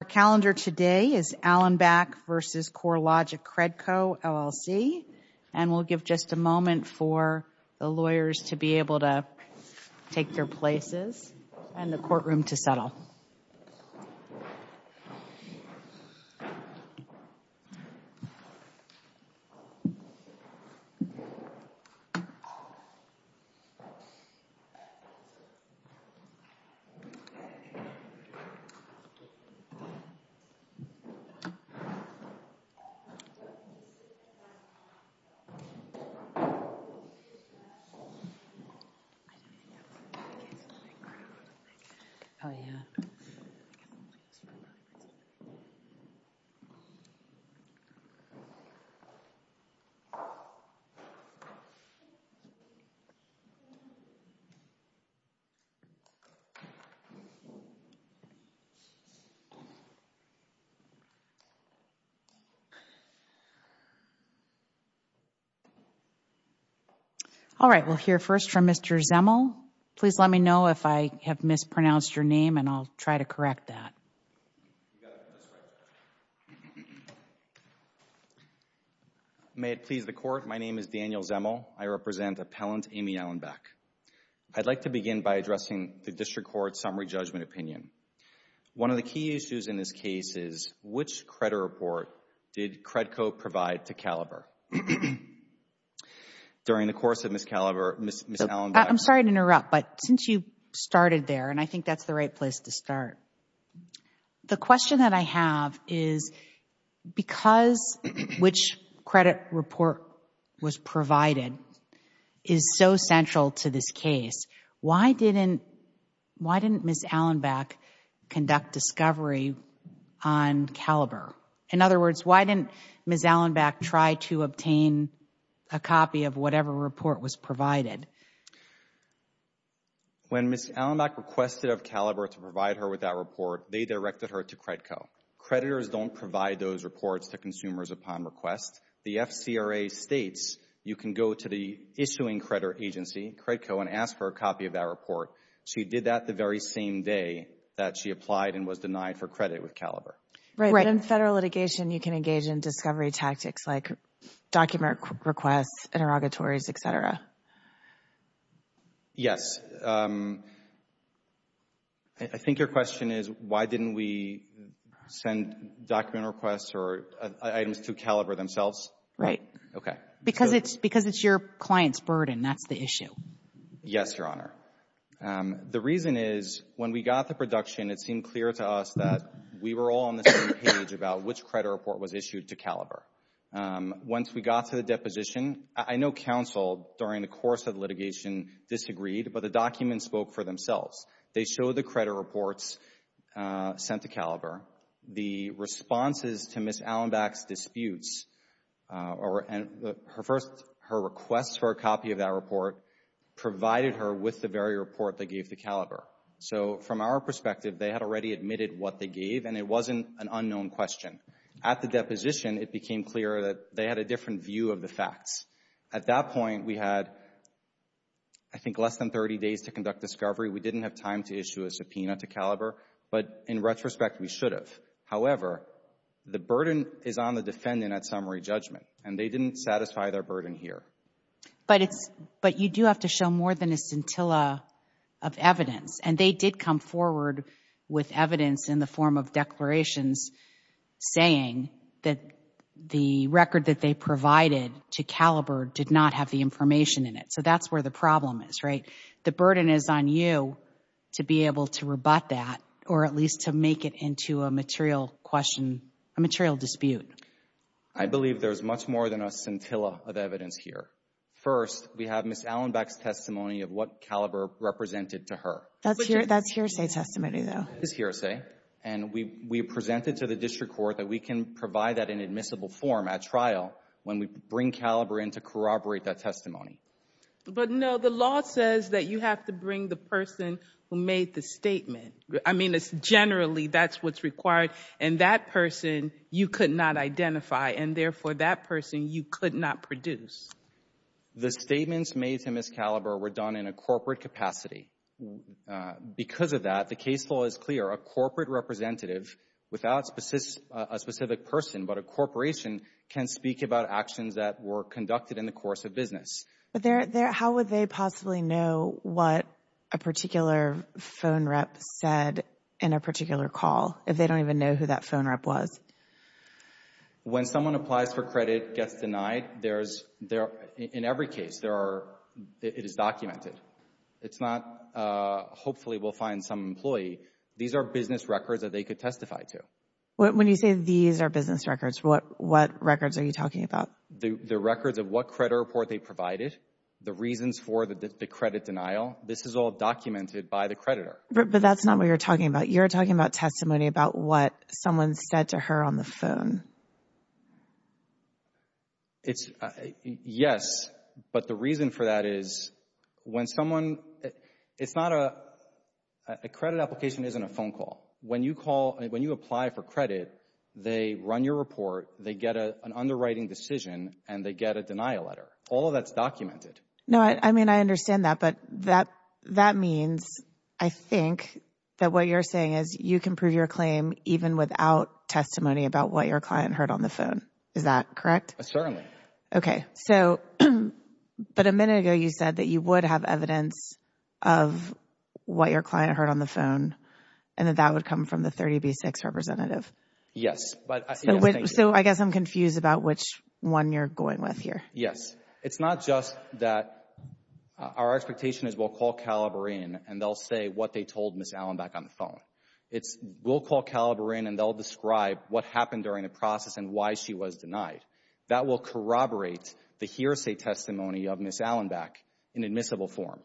The calendar today is Allenback v. Corelogic Credco LLC and we'll give just a moment for the lawyers to be able to take their places and the courtroom to settle. I don't think that's a good case in the background, I think. Oh, yeah. I think I'm only as far back as you. All right, we'll hear first from Mr. Zemel. Please let me know if I have mispronounced your name and I'll try to correct that. May it please the Court, my name is Daniel Zemel. I represent Appellant Aimee Allenback. I'd like to begin by addressing the District Court's summary judgment opinion. One of the key issues in this case is which credit report did Credco provide to Caliber? During the course of Ms. Allenback's case. I'm sorry to interrupt, but since you started there, and I think that's the right place to start, the question that I have is because which credit report was provided is so central to this case, why didn't Ms. Allenback conduct discovery on Caliber? In other words, why didn't Ms. Allenback try to obtain a copy of whatever report was provided? When Ms. Allenback requested of Caliber to provide her with that report, they directed her to Credco. Creditors don't provide those reports to consumers upon request. The FCRA states you can go to the issuing credit agency, Credco, and ask for a copy of that report. She did that the very same day that she applied and was denied for credit with Caliber. Right. But in federal litigation, you can engage in discovery tactics like document requests, interrogatories, et cetera. Yes. I think your question is why didn't we send document requests or items to Caliber themselves? Right. Okay. Because it's your client's burden. That's the issue. Yes, Your Honor. The reason is when we got the production, it seemed clear to us that we were all on the same page about which credit report was issued to Caliber. Once we got to the deposition, I know counsel during the course of the litigation disagreed, but the documents spoke for themselves. They showed the credit reports sent to Caliber. The responses to Ms. Allenback's disputes, her requests for a copy of that report provided her with the very report they gave to Caliber. So from our perspective, they had already admitted what they gave, and it wasn't an unknown question. At the deposition, it became clear that they had a different view of the facts. At that point, we had, I think, less than 30 days to conduct discovery. We didn't have time to issue a subpoena to Caliber, but in retrospect, we should have. However, the burden is on the defendant at summary judgment, and they didn't satisfy their burden here. But it's, but you do have to show more than a scintilla of evidence, and they did come forward with evidence in the form of declarations saying that the record that they provided to Caliber did not have the information in it. So that's where the problem is, right? The burden is on you to be able to rebut that, or at least to make it into a material question, a material dispute. I believe there's much more than a scintilla of evidence here. First, we have Ms. Allenbeck's testimony of what Caliber represented to her. That's hearsay testimony, though. It's hearsay. And we presented to the district court that we can provide that in admissible form at trial when we bring Caliber in to corroborate that testimony. But no, the law says that you have to bring the person who made the statement. I mean, it's generally, that's what's required. And that person you could not identify, and therefore, that person you could not produce. The statements made to Ms. Caliber were done in a corporate capacity. Because of that, the case law is clear. A corporate representative without a specific person but a corporation can speak about actions that were conducted in the course of business. But how would they possibly know what a particular phone rep said in a particular call if they don't even know who that phone rep was? When someone applies for credit, gets denied, there's, in every case, there are, it is documented. It's not, hopefully we'll find some employee. These are business records that they could testify to. When you say these are business records, what records are you talking about? The records of what credit report they provided? The reasons for the credit denial? This is all documented by the creditor. But that's not what you're talking about. You're talking about testimony about what someone said to her on the phone. It's, yes, but the reason for that is when someone, it's not a, a credit application isn't a phone call. When you call, when you apply for credit, they run your report, they get an underwriting decision and they get a denial letter. All of that's documented. No, I mean, I understand that, but that, that means, I think, that what you're saying is you can prove your claim even without testimony about what your client heard on the phone. Is that correct? Certainly. Okay. So, but a minute ago you said that you would have evidence of what your client heard on the phone and that that would come from the 30B6 representative. So, I guess I'm confused about which one you're going with here. Yes. It's not just that our expectation is we'll call Caliber in and they'll say what they told Ms. Allenbach on the phone. It's we'll call Caliber in and they'll describe what happened during the process and why she was denied. That will corroborate the hearsay testimony of Ms. Allenbach in admissible form.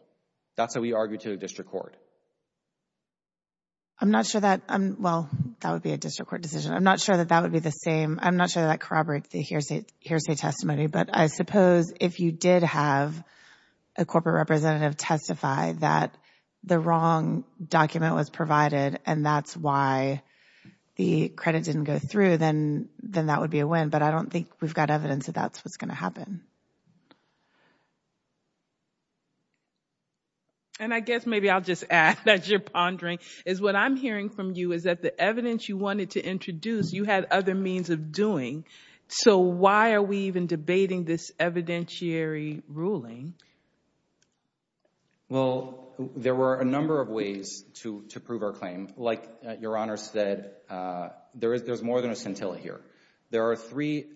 That's how we argue to the district court. I'm not sure that, well, that would be a district court decision. I'm not sure that that would be the same. I'm not sure that corroborates the hearsay testimony, but I suppose if you did have a corporate representative testify that the wrong document was provided and that's why the credit didn't go through, then that would be a win, but I don't think we've got evidence that that's what's going to happen. And I guess maybe I'll just add that you're pondering is what I'm hearing from you is that the evidence you wanted to introduce, you had other means of doing, so why are we even debating this evidentiary ruling? Well, there were a number of ways to prove our claim. Like Your Honor said, there's more than a scintilla here. There are three,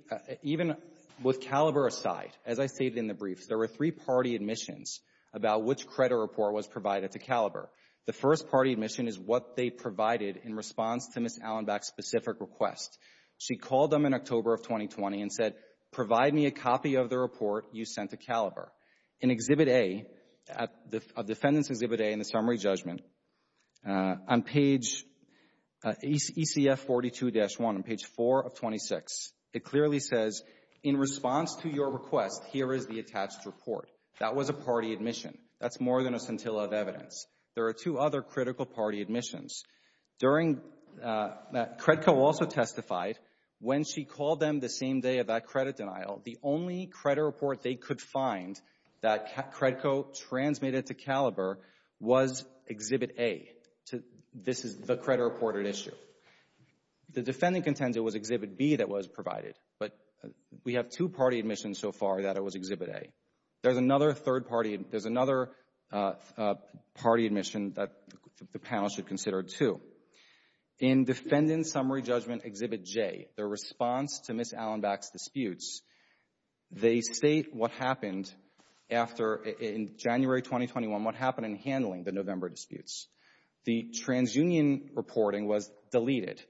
even with Caliber aside, as I stated in the brief, there were three party admissions about which credit report was provided to Caliber. The first party admission is what they provided in response to Ms. Allenbach's specific request. She called them in October of 2020 and said, provide me a copy of the report you sent to In Exhibit A, of Defendant's Exhibit A in the summary judgment, on page ECF42-1, on page ECF26. It clearly says, in response to your request, here is the attached report. That was a party admission. That's more than a scintilla of evidence. There are two other critical party admissions. During, Credco also testified, when she called them the same day of that credit denial, the only credit report they could find that Credco transmitted to Caliber was Exhibit A. This is the credit reported issue. The Defendant contends it was Exhibit B that was provided, but we have two party admissions so far that it was Exhibit A. There's another third party, there's another party admission that the panel should consider, too. In Defendant's summary judgment Exhibit J, their response to Ms. Allenbach's disputes, they state what happened after, in January 2021, what happened in handling the November disputes. The TransUnion reporting was deleted.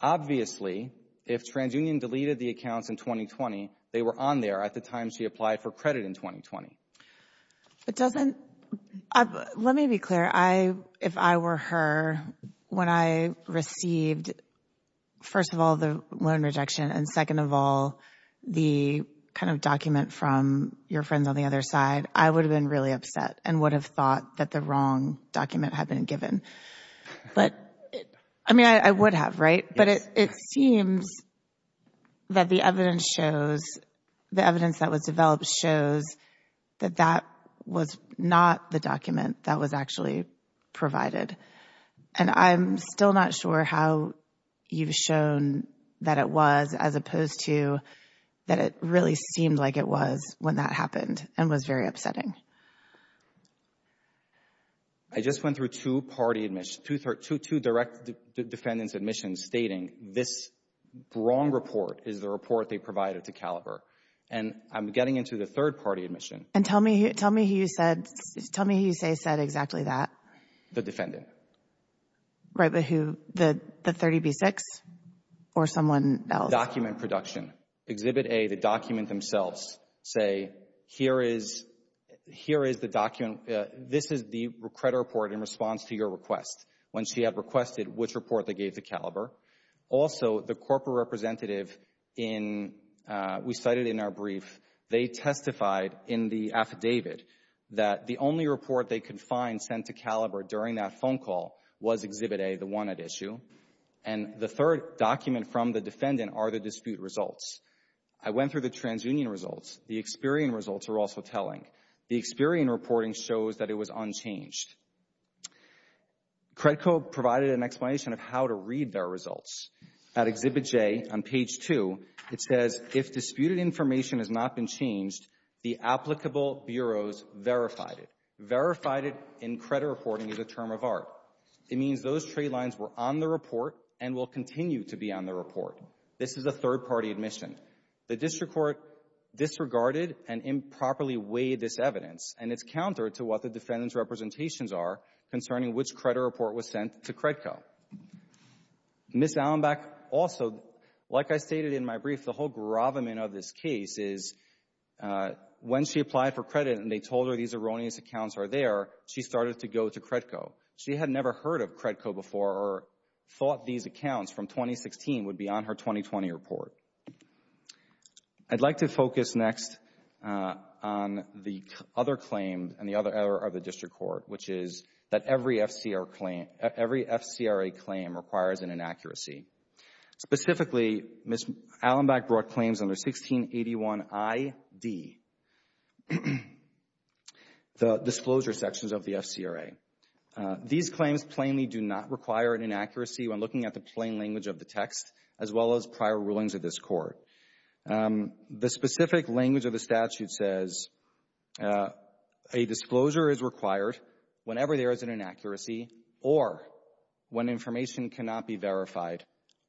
Obviously, if TransUnion deleted the accounts in 2020, they were on there at the time she applied for credit in 2020. It doesn't, let me be clear, if I were her, when I received, first of all, the loan rejection and second of all, the kind of document from your friends on the other side, I would have been really upset and would have thought that the wrong document had been given. But I mean, I would have, right? But it seems that the evidence shows, the evidence that was developed shows that that was not the document that was actually provided. And I'm still not sure how you've shown that it was as opposed to that it really seemed like it was when that happened and was very upsetting. I just went through two party admissions, two direct defendant's admissions stating this wrong report is the report they provided to Caliber. And I'm getting into the third party admission. And tell me who you said, tell me who you say said exactly that. The defendant. Right, but who, the 30B6 or someone else? Document production. Exhibit A, the document themselves say, here is the document, this is the credit report in response to your request when she had requested which report they gave to Caliber. Also the corporate representative in, we cited in our brief, they testified in the affidavit that the only report they could find sent to Caliber during that phone call was Exhibit A, the one at issue. And the third document from the defendant are the dispute results. I went through the transunion results. The Experian results are also telling. The Experian reporting shows that it was unchanged. Credco provided an explanation of how to read their results. At Exhibit J on page 2, it says, if disputed information has not been changed, the applicable bureaus verified it. Verified it in credit reporting is a term of art. It means those trade lines were on the report and will continue to be on the report. This is a third-party admission. The district court disregarded and improperly weighed this evidence, and it's counter to what the defendant's representations are concerning which credit report was sent to Credco. Ms. Allenback also, like I stated in my brief, the whole gravamen of this case is when she applied for credit and they told her these erroneous accounts are there, she started to go to Credco. She had never heard of Credco before or thought these accounts from 2016 would be on her 2020 report. I'd like to focus next on the other claim and the other error of the district court, which is that every FCRA claim requires an inaccuracy. Specifically, Ms. Allenback brought claims under 1681ID, the disclosure sections of the FCRA. These claims plainly do not require an inaccuracy when looking at the plain language of the text as well as prior rulings of this court. The specific language of the statute says a disclosure is required whenever there is an inaccuracy or when information cannot be verified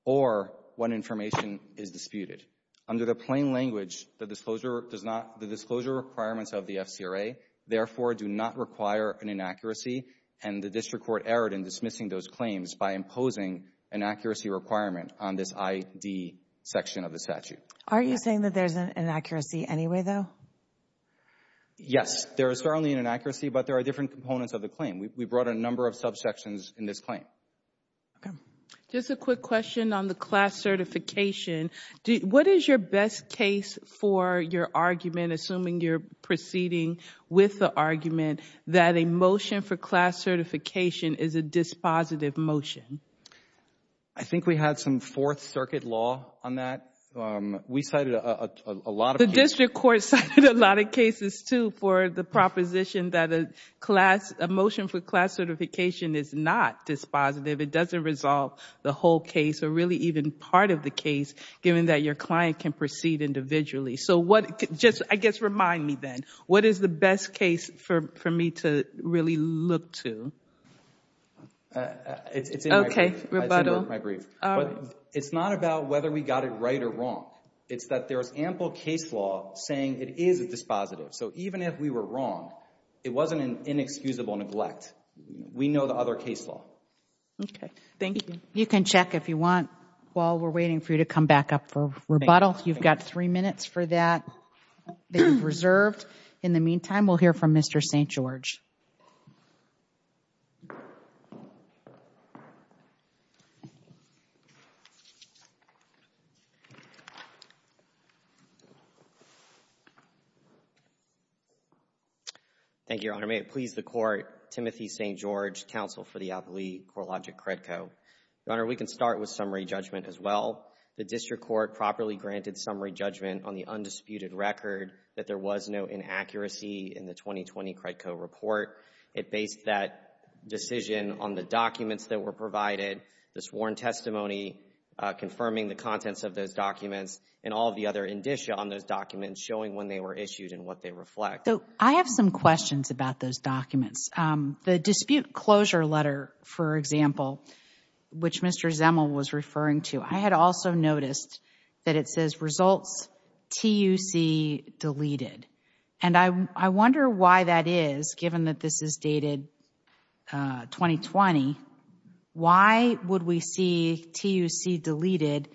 or when information is disputed. Under the plain language, the disclosure requirements of the FCRA, therefore, do not require an inaccuracy. The district court erred in dismissing those claims by imposing an accuracy requirement on this ID section of the statute. Are you saying that there's an inaccuracy anyway, though? Yes. There is certainly an inaccuracy, but there are different components of the claim. We brought a number of subsections in this claim. Just a quick question on the class certification. What is your best case for your argument, assuming you're proceeding with the argument, that a motion for class certification is a dispositive motion? I think we had some Fourth Circuit law on that. We cited a lot of cases. The district court cited a lot of cases, too, for the proposition that a motion for class certification is not dispositive. It doesn't resolve the whole case or really even part of the case, given that your client can proceed individually. So just, I guess, remind me then, what is the best case for me to really look to? It's in my brief. It's not about whether we got it right or wrong. It's that there's ample case law saying it is a dispositive. So even if we were wrong, it wasn't an inexcusable neglect. We know the other case law. You can check, if you want, while we're waiting for you to come back up for rebuttal. You've got three minutes for that reserved. In the meantime, we'll hear from Mr. St. George. Thank you, Your Honor. May it please the Court, Timothy St. George, counsel for the appellee, CoreLogic-Credco. Your Honor, we can start with summary judgment as well. The district court properly granted summary judgment on the undisputed record that there was no inaccuracy in the 2020 Credco report. It based that decision on the documents that were provided, the sworn testimony, confirming the contents of those documents, and all of the other indicia on those documents showing when they were issued and what they reflect. I have some questions about those documents. The dispute closure letter, for example, which Mr. Zemel was referring to, I had also noticed that it says, results TUC deleted. And I wonder why that is, given that this is dated 2020. Why would we see TUC deleted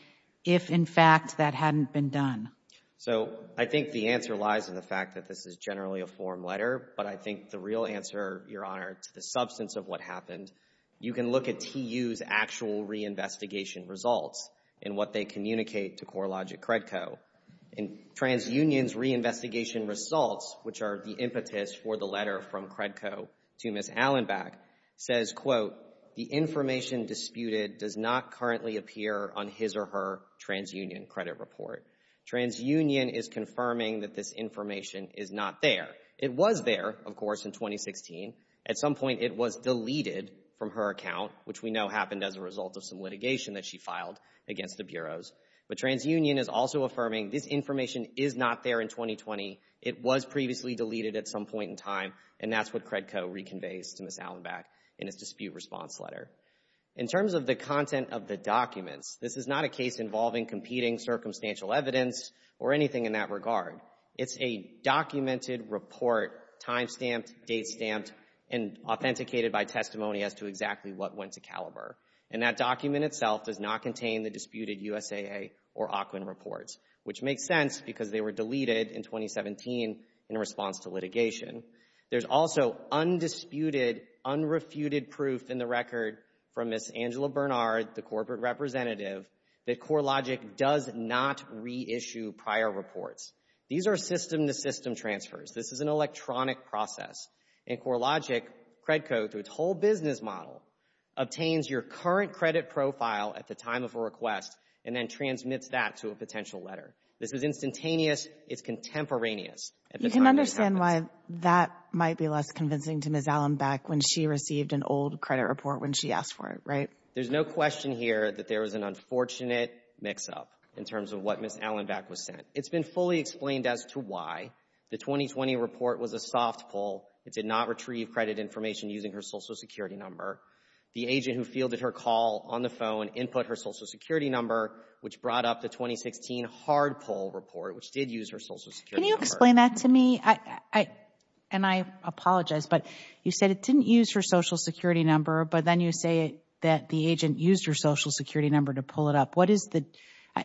if, in fact, that hadn't been done? So I think the answer lies in the fact that this is generally a form letter, but I think the real answer, Your Honor, to the substance of what happened, you can look at TU's actual reinvestigation results and what they communicate to CoreLogic-Credco. In TransUnion's reinvestigation results, which are the impetus for the letter from Credco to Ms. Allenback, says, quote, the information disputed does not currently appear on his or her TransUnion credit report. TransUnion is confirming that this information is not there. It was there, of course, in 2016. At some point, it was deleted from her account, which we know happened as a result of some litigation that she filed against the bureaus. But TransUnion is also affirming this information is not there in 2020. It was previously deleted at some point in time, and that's what Credco reconveys to Ms. Allenback in its dispute response letter. In terms of the content of the documents, this is not a case involving competing circumstantial evidence or anything in that regard. It's a documented report, time stamped, date stamped, and authenticated by testimony as to exactly what went to Caliber. And that document itself does not contain the disputed USAA or Auckland reports, which makes sense because they were deleted in 2017 in response to litigation. There's also undisputed, unrefuted proof in the record from Ms. Angela Bernard, the corporate representative, that CoreLogic does not reissue prior reports. These are system-to-system transfers. This is an electronic process. And CoreLogic, Credco, through its whole business model, obtains your current credit profile at the time of a request and then transmits that to a potential letter. This is instantaneous. It's contemporaneous. You can understand why that might be less convincing to Ms. Allenback when she received an old credit report when she asked for it, right? There's no question here that there was an unfortunate mix-up in terms of what Ms. Allenback was sent. It's been fully explained as to why. The 2020 report was a soft pull. It did not retrieve credit information using her Social Security number. The agent who fielded her call on the phone input her Social Security number, which brought up the 2016 hard pull report, which did use her Social Security number. Can you explain that to me? And I apologize, but you said it didn't use her Social Security number, but then you say that the agent used her Social Security number to pull it up. What is the,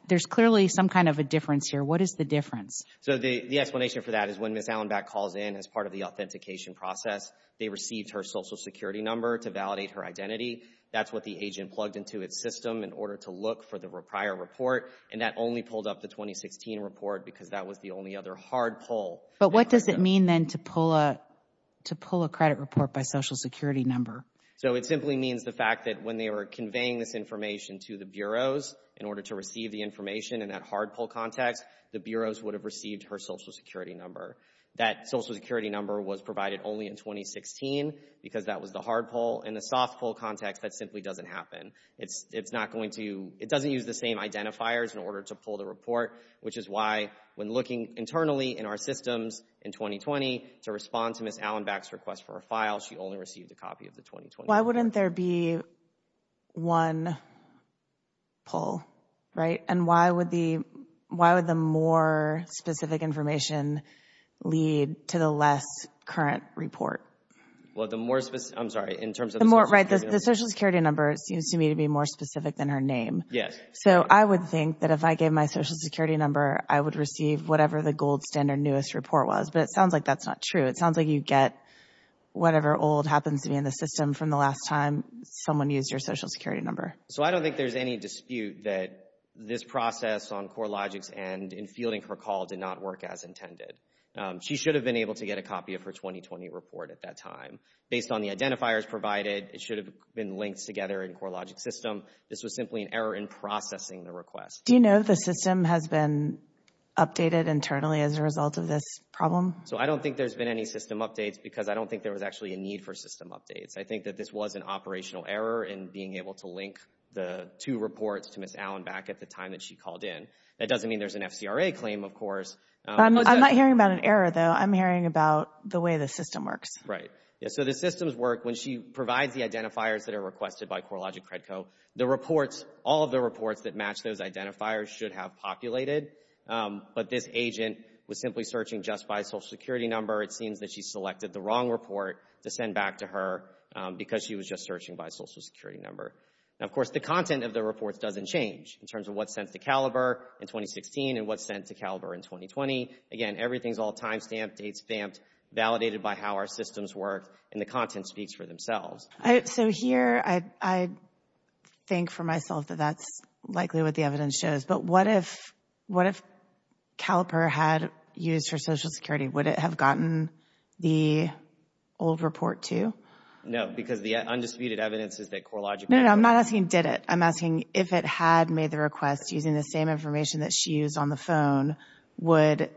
there's clearly some kind of a difference here. What is the difference? So, the explanation for that is when Ms. Allenback calls in as part of the authentication process, they received her Social Security number to validate her identity. That's what the agent plugged into its system in order to look for the prior report. And that only pulled up the 2016 report because that was the only other hard pull. But what does it mean then to pull a credit report by Social Security number? So, it simply means the fact that when they were conveying this information to the bureaus in order to receive the information in that hard pull context, the bureaus would have received her Social Security number. That Social Security number was provided only in 2016 because that was the hard pull. In the soft pull context, that simply doesn't happen. It's not going to, it doesn't use the same identifiers in order to pull the report, which is why when looking internally in our systems in 2020 to respond to Ms. Allenback's request for a file, she only received a copy of the 2020 report. Why wouldn't there be one pull, right? And why would the, why would the more specific information lead to the less current report? Well, the more specific, I'm sorry. In terms of the Social Security number. Right, the Social Security number seems to me to be more specific than her name. Yes. So, I would think that if I gave my Social Security number, I would receive whatever the gold standard newest report was, but it sounds like that's not true. It sounds like you get whatever old happens to be in the system from the last time someone used your Social Security number. So I don't think there's any dispute that this process on CoreLogic's end in fielding her call did not work as intended. She should have been able to get a copy of her 2020 report at that time. Based on the identifiers provided, it should have been linked together in CoreLogic's system. This was simply an error in processing the request. Do you know if the system has been updated internally as a result of this problem? So, I don't think there's been any system updates because I don't think there was actually a need for system updates. I think that this was an operational error in being able to link the two reports to Ms. Allen back at the time that she called in. That doesn't mean there's an FCRA claim, of course. I'm not hearing about an error, though. I'm hearing about the way the system works. Right. So, the systems work when she provides the identifiers that are requested by CoreLogic Credco. The reports, all of the reports that match those identifiers should have populated, but this agent was simply searching just by social security number. It seems that she selected the wrong report to send back to her because she was just searching by social security number. Now, of course, the content of the reports doesn't change in terms of what's sent to Caliber in 2016 and what's sent to Caliber in 2020. Again, everything's all timestamped, dates stamped, validated by how our systems work, and the content speaks for themselves. So, here, I think for myself that that's likely what the evidence shows. But what if Caliber had used her social security? Would it have gotten the old report, too? No, because the undisputed evidence is that CoreLogic did it. No, no, I'm not asking did it. I'm asking if it had made the request using the same information that she used on the phone, would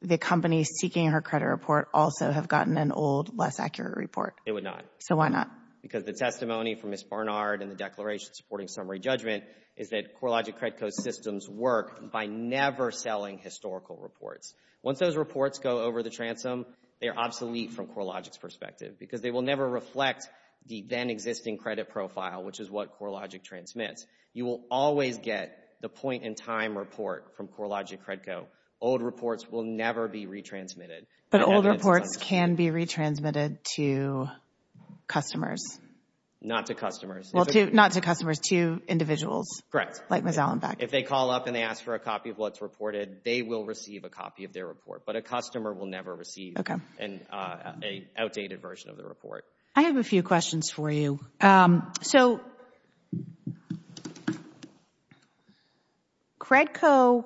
the company seeking her credit report also have gotten an old, less accurate report? It would not. So, why not? Because the testimony from Ms. Barnard and the declaration supporting summary judgment is that CoreLogic Credco systems work by never selling historical reports. Once those reports go over the transom, they are obsolete from CoreLogic's perspective because they will never reflect the then-existing credit profile, which is what CoreLogic transmits. You will always get the point-in-time report from CoreLogic Credco. Old reports will never be retransmitted. But old reports can be retransmitted to customers? Not to customers. Well, not to customers, to individuals. Like Ms. Allenback. If they call up and they ask for a copy of what's reported, they will receive a copy of their report. But a customer will never receive an outdated version of the report. I have a few questions for you. So, Credco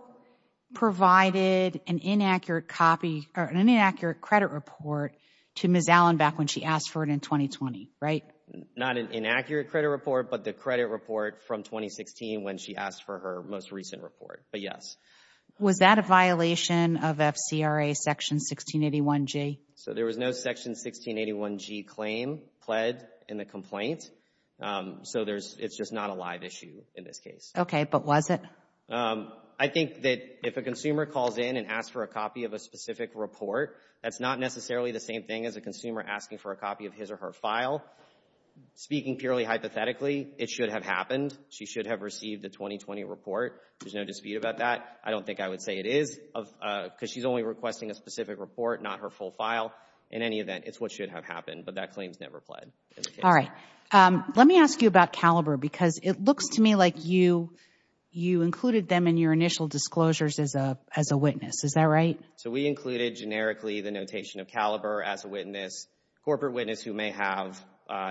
provided an inaccurate copy or an inaccurate credit report to Ms. Allenback when she asked for it in 2020, right? Right. Not an inaccurate credit report, but the credit report from 2016 when she asked for her most recent report, but yes. Was that a violation of FCRA Section 1681G? So there was no Section 1681G claim pled in the complaint, so it's just not a live issue in this case. Okay, but was it? I think that if a consumer calls in and asks for a copy of a specific report, that's not necessarily the same thing as a consumer asking for a copy of his or her file. Speaking purely hypothetically, it should have happened. She should have received the 2020 report. There's no dispute about that. I don't think I would say it is, because she's only requesting a specific report, not her full file. In any event, it's what should have happened, but that claim's never pled in the case. All right. Let me ask you about Caliber, because it looks to me like you included them in your initial disclosures as a witness. Is that right? So we included, generically, the notation of Caliber as a witness, corporate witness who may have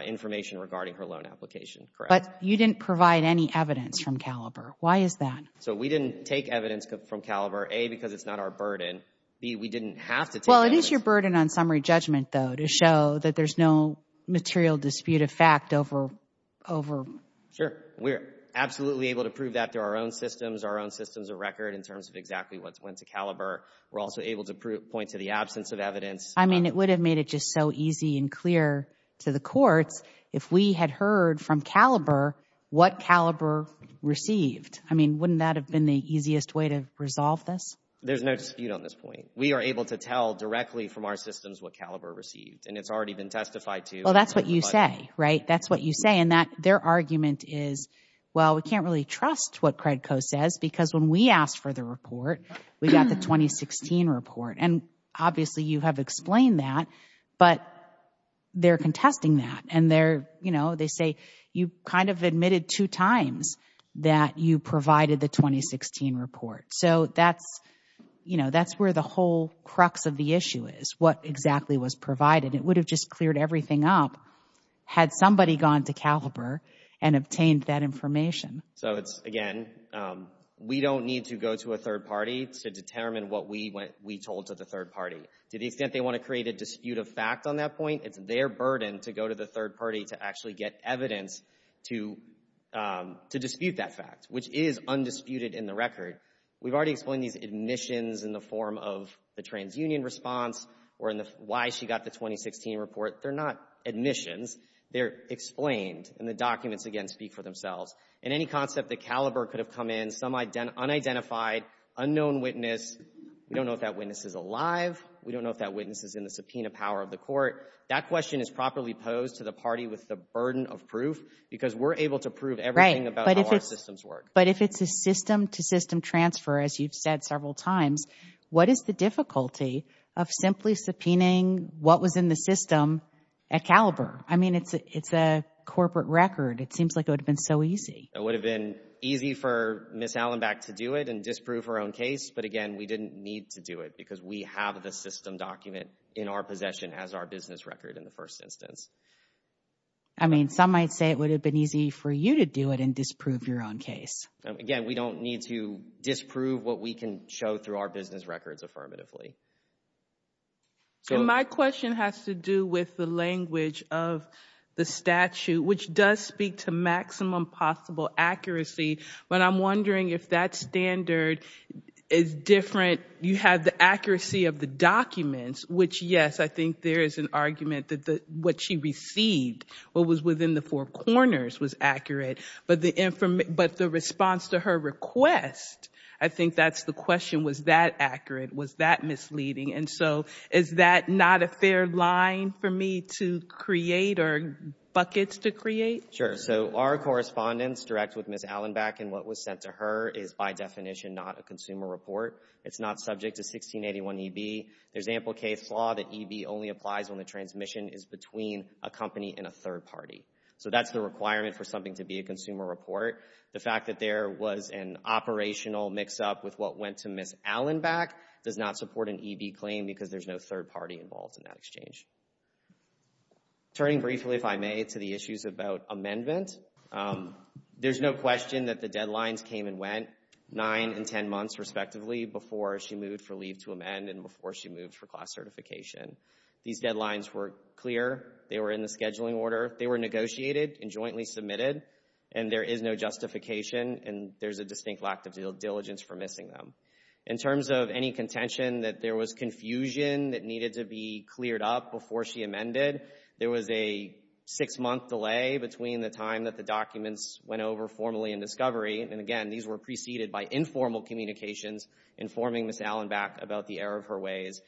information regarding her loan application, correct? But you didn't provide any evidence from Caliber. Why is that? So we didn't take evidence from Caliber, A, because it's not our burden, B, we didn't have to take evidence. Well, it is your burden on summary judgment, though, to show that there's no material disputed fact over... Sure. We're absolutely able to prove that through our own systems, our own systems of record in terms of exactly what went to Caliber. We're also able to point to the absence of evidence. I mean, it would have made it just so easy and clear to the courts if we had heard from Caliber what Caliber received. I mean, wouldn't that have been the easiest way to resolve this? There's no dispute on this point. We are able to tell directly from our systems what Caliber received, and it's already been testified to. Well, that's what you say, right? That's what you say. And their argument is, well, we can't really trust what Credco says, because when we asked for the report, we got the 2016 report. And obviously, you have explained that, but they're contesting that. And they say, you kind of admitted two times that you provided the 2016 report. So that's where the whole crux of the issue is, what exactly was provided. It would have just cleared everything up had somebody gone to Caliber and obtained that information. So it's, again, we don't need to go to a third party to determine what we told to the third party. To the extent they want to create a dispute of fact on that point, it's their burden to go to the third party to actually get evidence to dispute that fact, which is undisputed in the record. We've already explained these admissions in the form of the TransUnion response or why she got the 2016 report. They're not admissions. They're explained. And the documents, again, speak for themselves. In any concept that Caliber could have come in, some unidentified, unknown witness, we don't know if that witness is alive. We don't know if that witness is in the subpoena power of the court. That question is properly posed to the party with the burden of proof because we're able to prove everything about how our systems work. But if it's a system to system transfer, as you've said several times, what is the difficulty of simply subpoenaing what was in the system at Caliber? I mean, it's a corporate record. It seems like it would have been so easy. It would have been easy for Ms. Allenback to do it and disprove her own case. But again, we didn't need to do it because we have the system document in our possession as our business record in the first instance. I mean, some might say it would have been easy for you to do it and disprove your own case. Again, we don't need to disprove what we can show through our business records affirmatively. My question has to do with the language of the statute, which does speak to maximum possible accuracy. But I'm wondering if that standard is different. You have the accuracy of the documents, which yes, I think there is an argument that what she received, what was within the four corners was accurate. But the response to her request, I think that's the question. Was that accurate? Was that misleading? And so is that not a fair line for me to create or buckets to create? Sure. So our correspondence direct with Ms. Allenback and what was sent to her is by definition not a consumer report. It's not subject to 1681EB. There's ample case law that EB only applies when the transmission is between a company and a third party. So that's the requirement for something to be a consumer report. The fact that there was an operational mix up with what went to Ms. Allenback does not support an EB claim because there's no third party involved in that exchange. Turning briefly, if I may, to the issues about amendment, there's no question that the deadlines came and went, nine and 10 months respectively, before she moved for leave to amend and before she moved for class certification. These deadlines were clear. They were in the scheduling order. They were negotiated and jointly submitted. And there is no justification and there's a distinct lack of diligence for missing them. In terms of any contention that there was confusion that needed to be cleared up before she amended, there was a six-month delay between the time that the documents went over formally in discovery. And again, these were preceded by informal communications informing Ms. Allenback about the error of her ways.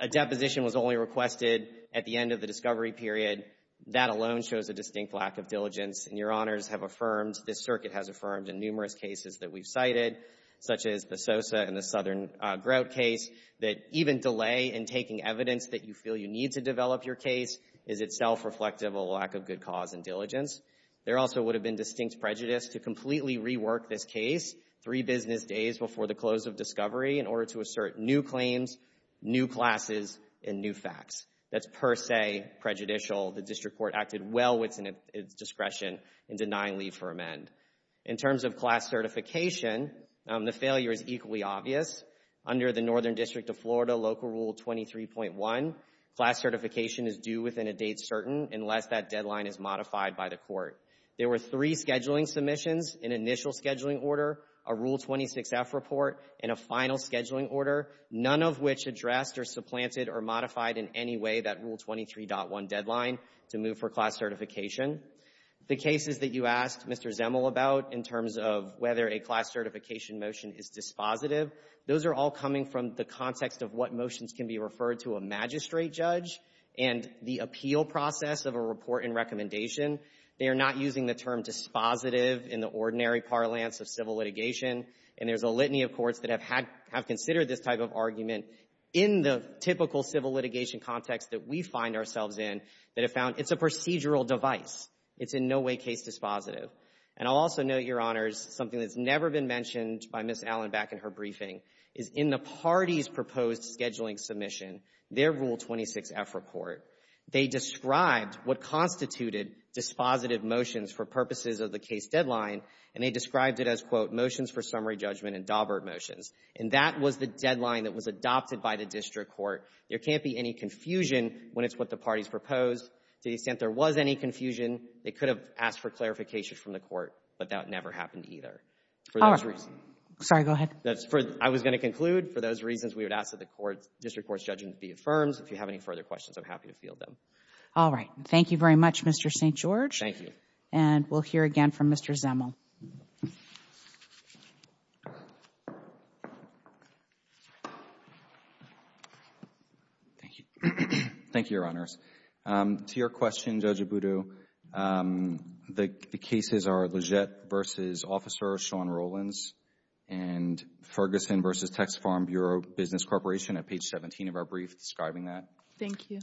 A deposition was only requested at the end of the discovery period. That alone shows a distinct lack of diligence. And Your Honors have affirmed, this circuit has affirmed in numerous cases that we've cited, such as the Sosa and the Southern Grout case, that even delay in taking evidence that you feel you need to develop your case is itself reflective of a lack of good cause and diligence. There also would have been distinct prejudice to completely rework this case three business days before the close of discovery in order to assert new claims, new classes, and new facts. That's per se prejudicial. The district court acted well within its discretion in denying leave for amend. In terms of class certification, the failure is equally obvious. Under the Northern District of Florida Local Rule 23.1, class certification is due within a date certain unless that deadline is modified by the court. There were three scheduling submissions, an initial scheduling order, a Rule 26F report, and a final scheduling order, none of which addressed or supplanted or modified in any way that Rule 23.1 deadline to move for class certification. The cases that you asked Mr. Zemel about in terms of whether a class certification motion is dispositive, those are all coming from the context of what motions can be referred to a magistrate judge and the appeal process of a report and recommendation. They are not using the term dispositive in the ordinary parlance of civil litigation. And there's a litany of courts that have had, have considered this type of argument in the typical civil litigation context that we find ourselves in that have found it's a procedural device. It's in no way case dispositive. And I'll also note, Your Honors, something that's never been mentioned by Ms. Allen back in her briefing is in the parties' proposed scheduling submission, their Rule 26F report, they described what constituted dispositive motions for purposes of the case deadline, and they described it as, quote, motions for summary judgment and Dawbert motions. And that was the deadline that was adopted by the district court. There can't be any confusion when it's what the parties proposed to the extent there was any confusion, they could have asked for clarification from the court, but that never happened either. For those reasons. Sorry, go ahead. That's for, I was going to conclude. For those reasons, we would ask that the court, district court's judgment be affirmed. If you have any further questions, I'm happy to field them. All right. Thank you very much, Mr. St. George. Thank you. And we'll hear again from Mr. Zemel. Thank you. Thank you, Your Honors. To your question, Judge Abudu, the cases are Leggett v. Officer Sean Rollins and Ferguson v. Text Farm Bureau Business Corporation at page 17 of our brief describing that. Thank you.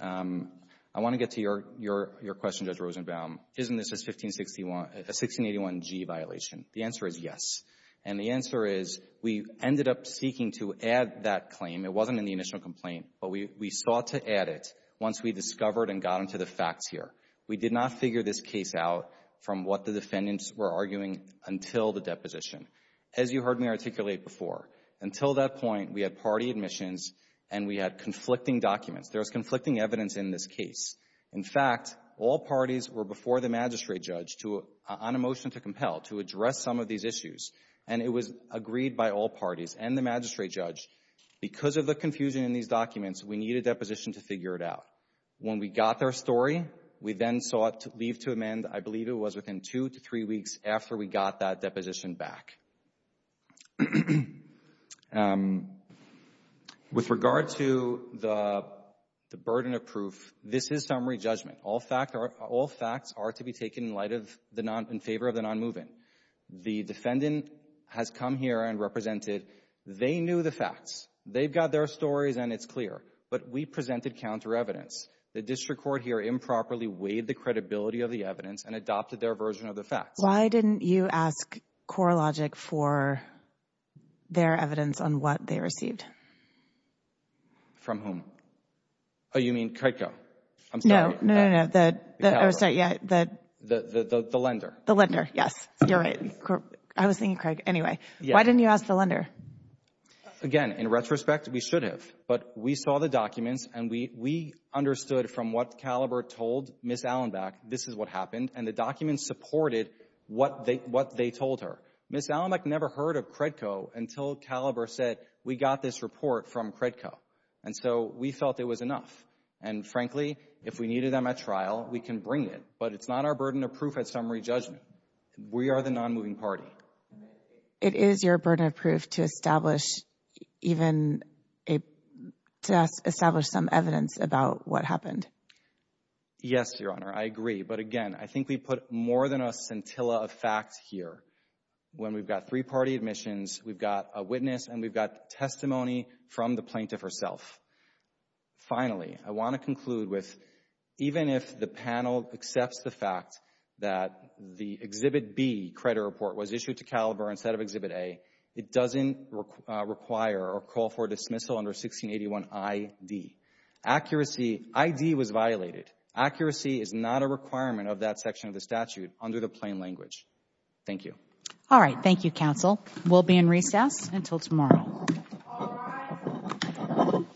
I want to get to your question, Judge Rosenbaum. Isn't this a 1681G violation? The answer is yes. And the answer is we ended up seeking to add that claim. It wasn't in the initial complaint. But we sought to add it once we discovered and got into the facts here. We did not figure this case out from what the defendants were arguing until the deposition. As you heard me articulate before, until that point, we had party admissions and we had conflicting documents. There was conflicting evidence in this case. In fact, all parties were before the magistrate judge to, on a motion to compel, to address some of these issues. And it was agreed by all parties and the magistrate judge. Because of the confusion in these documents, we needed a deposition to figure it out. When we got their story, we then sought leave to amend, I believe it was within two to three weeks after we got that deposition back. With regard to the burden of proof, this is summary judgment. All facts are to be taken in favor of the nonmoving. The defendant has come here and represented. They knew the facts. They've got their stories and it's clear. But we presented counter evidence. The district court here improperly weighed the credibility of the evidence and adopted their version of the facts. Why didn't you ask CoreLogic for their evidence on what they received? From whom? Oh, you mean Craig Coe? I'm sorry. No, no, no, no. I'm sorry. The lender. The lender. Yes. You're right. I was thinking Craig. Anyway. Why didn't you ask the lender? Again, in retrospect, we should have. But we saw the documents and we understood from what Caliber told Ms. Allenbeck, this is what happened. And the documents supported what they told her. Ms. Allenbeck never heard of Craig Coe until Caliber said, we got this report from Craig Coe. And so we felt it was enough. And frankly, if we needed them at trial, we can bring it. But it's not our burden of proof at summary judgment. We are the non-moving party. It is your burden of proof to establish even a, to establish some evidence about what happened. Yes, Your Honor. I agree. But again, I think we put more than a scintilla of facts here. When we've got three-party admissions, we've got a witness and we've got testimony from the plaintiff herself. Finally, I want to conclude with, even if the panel accepts the fact that the Exhibit B credit report was issued to Caliber instead of Exhibit A, it doesn't require or call for dismissal under 1681i.d. Accuracy, i.d. was violated. Accuracy is not a requirement of that section of the statute under the plain language. Thank you. All right. Thank you, counsel. We'll be in recess until tomorrow. All rise. Thank you.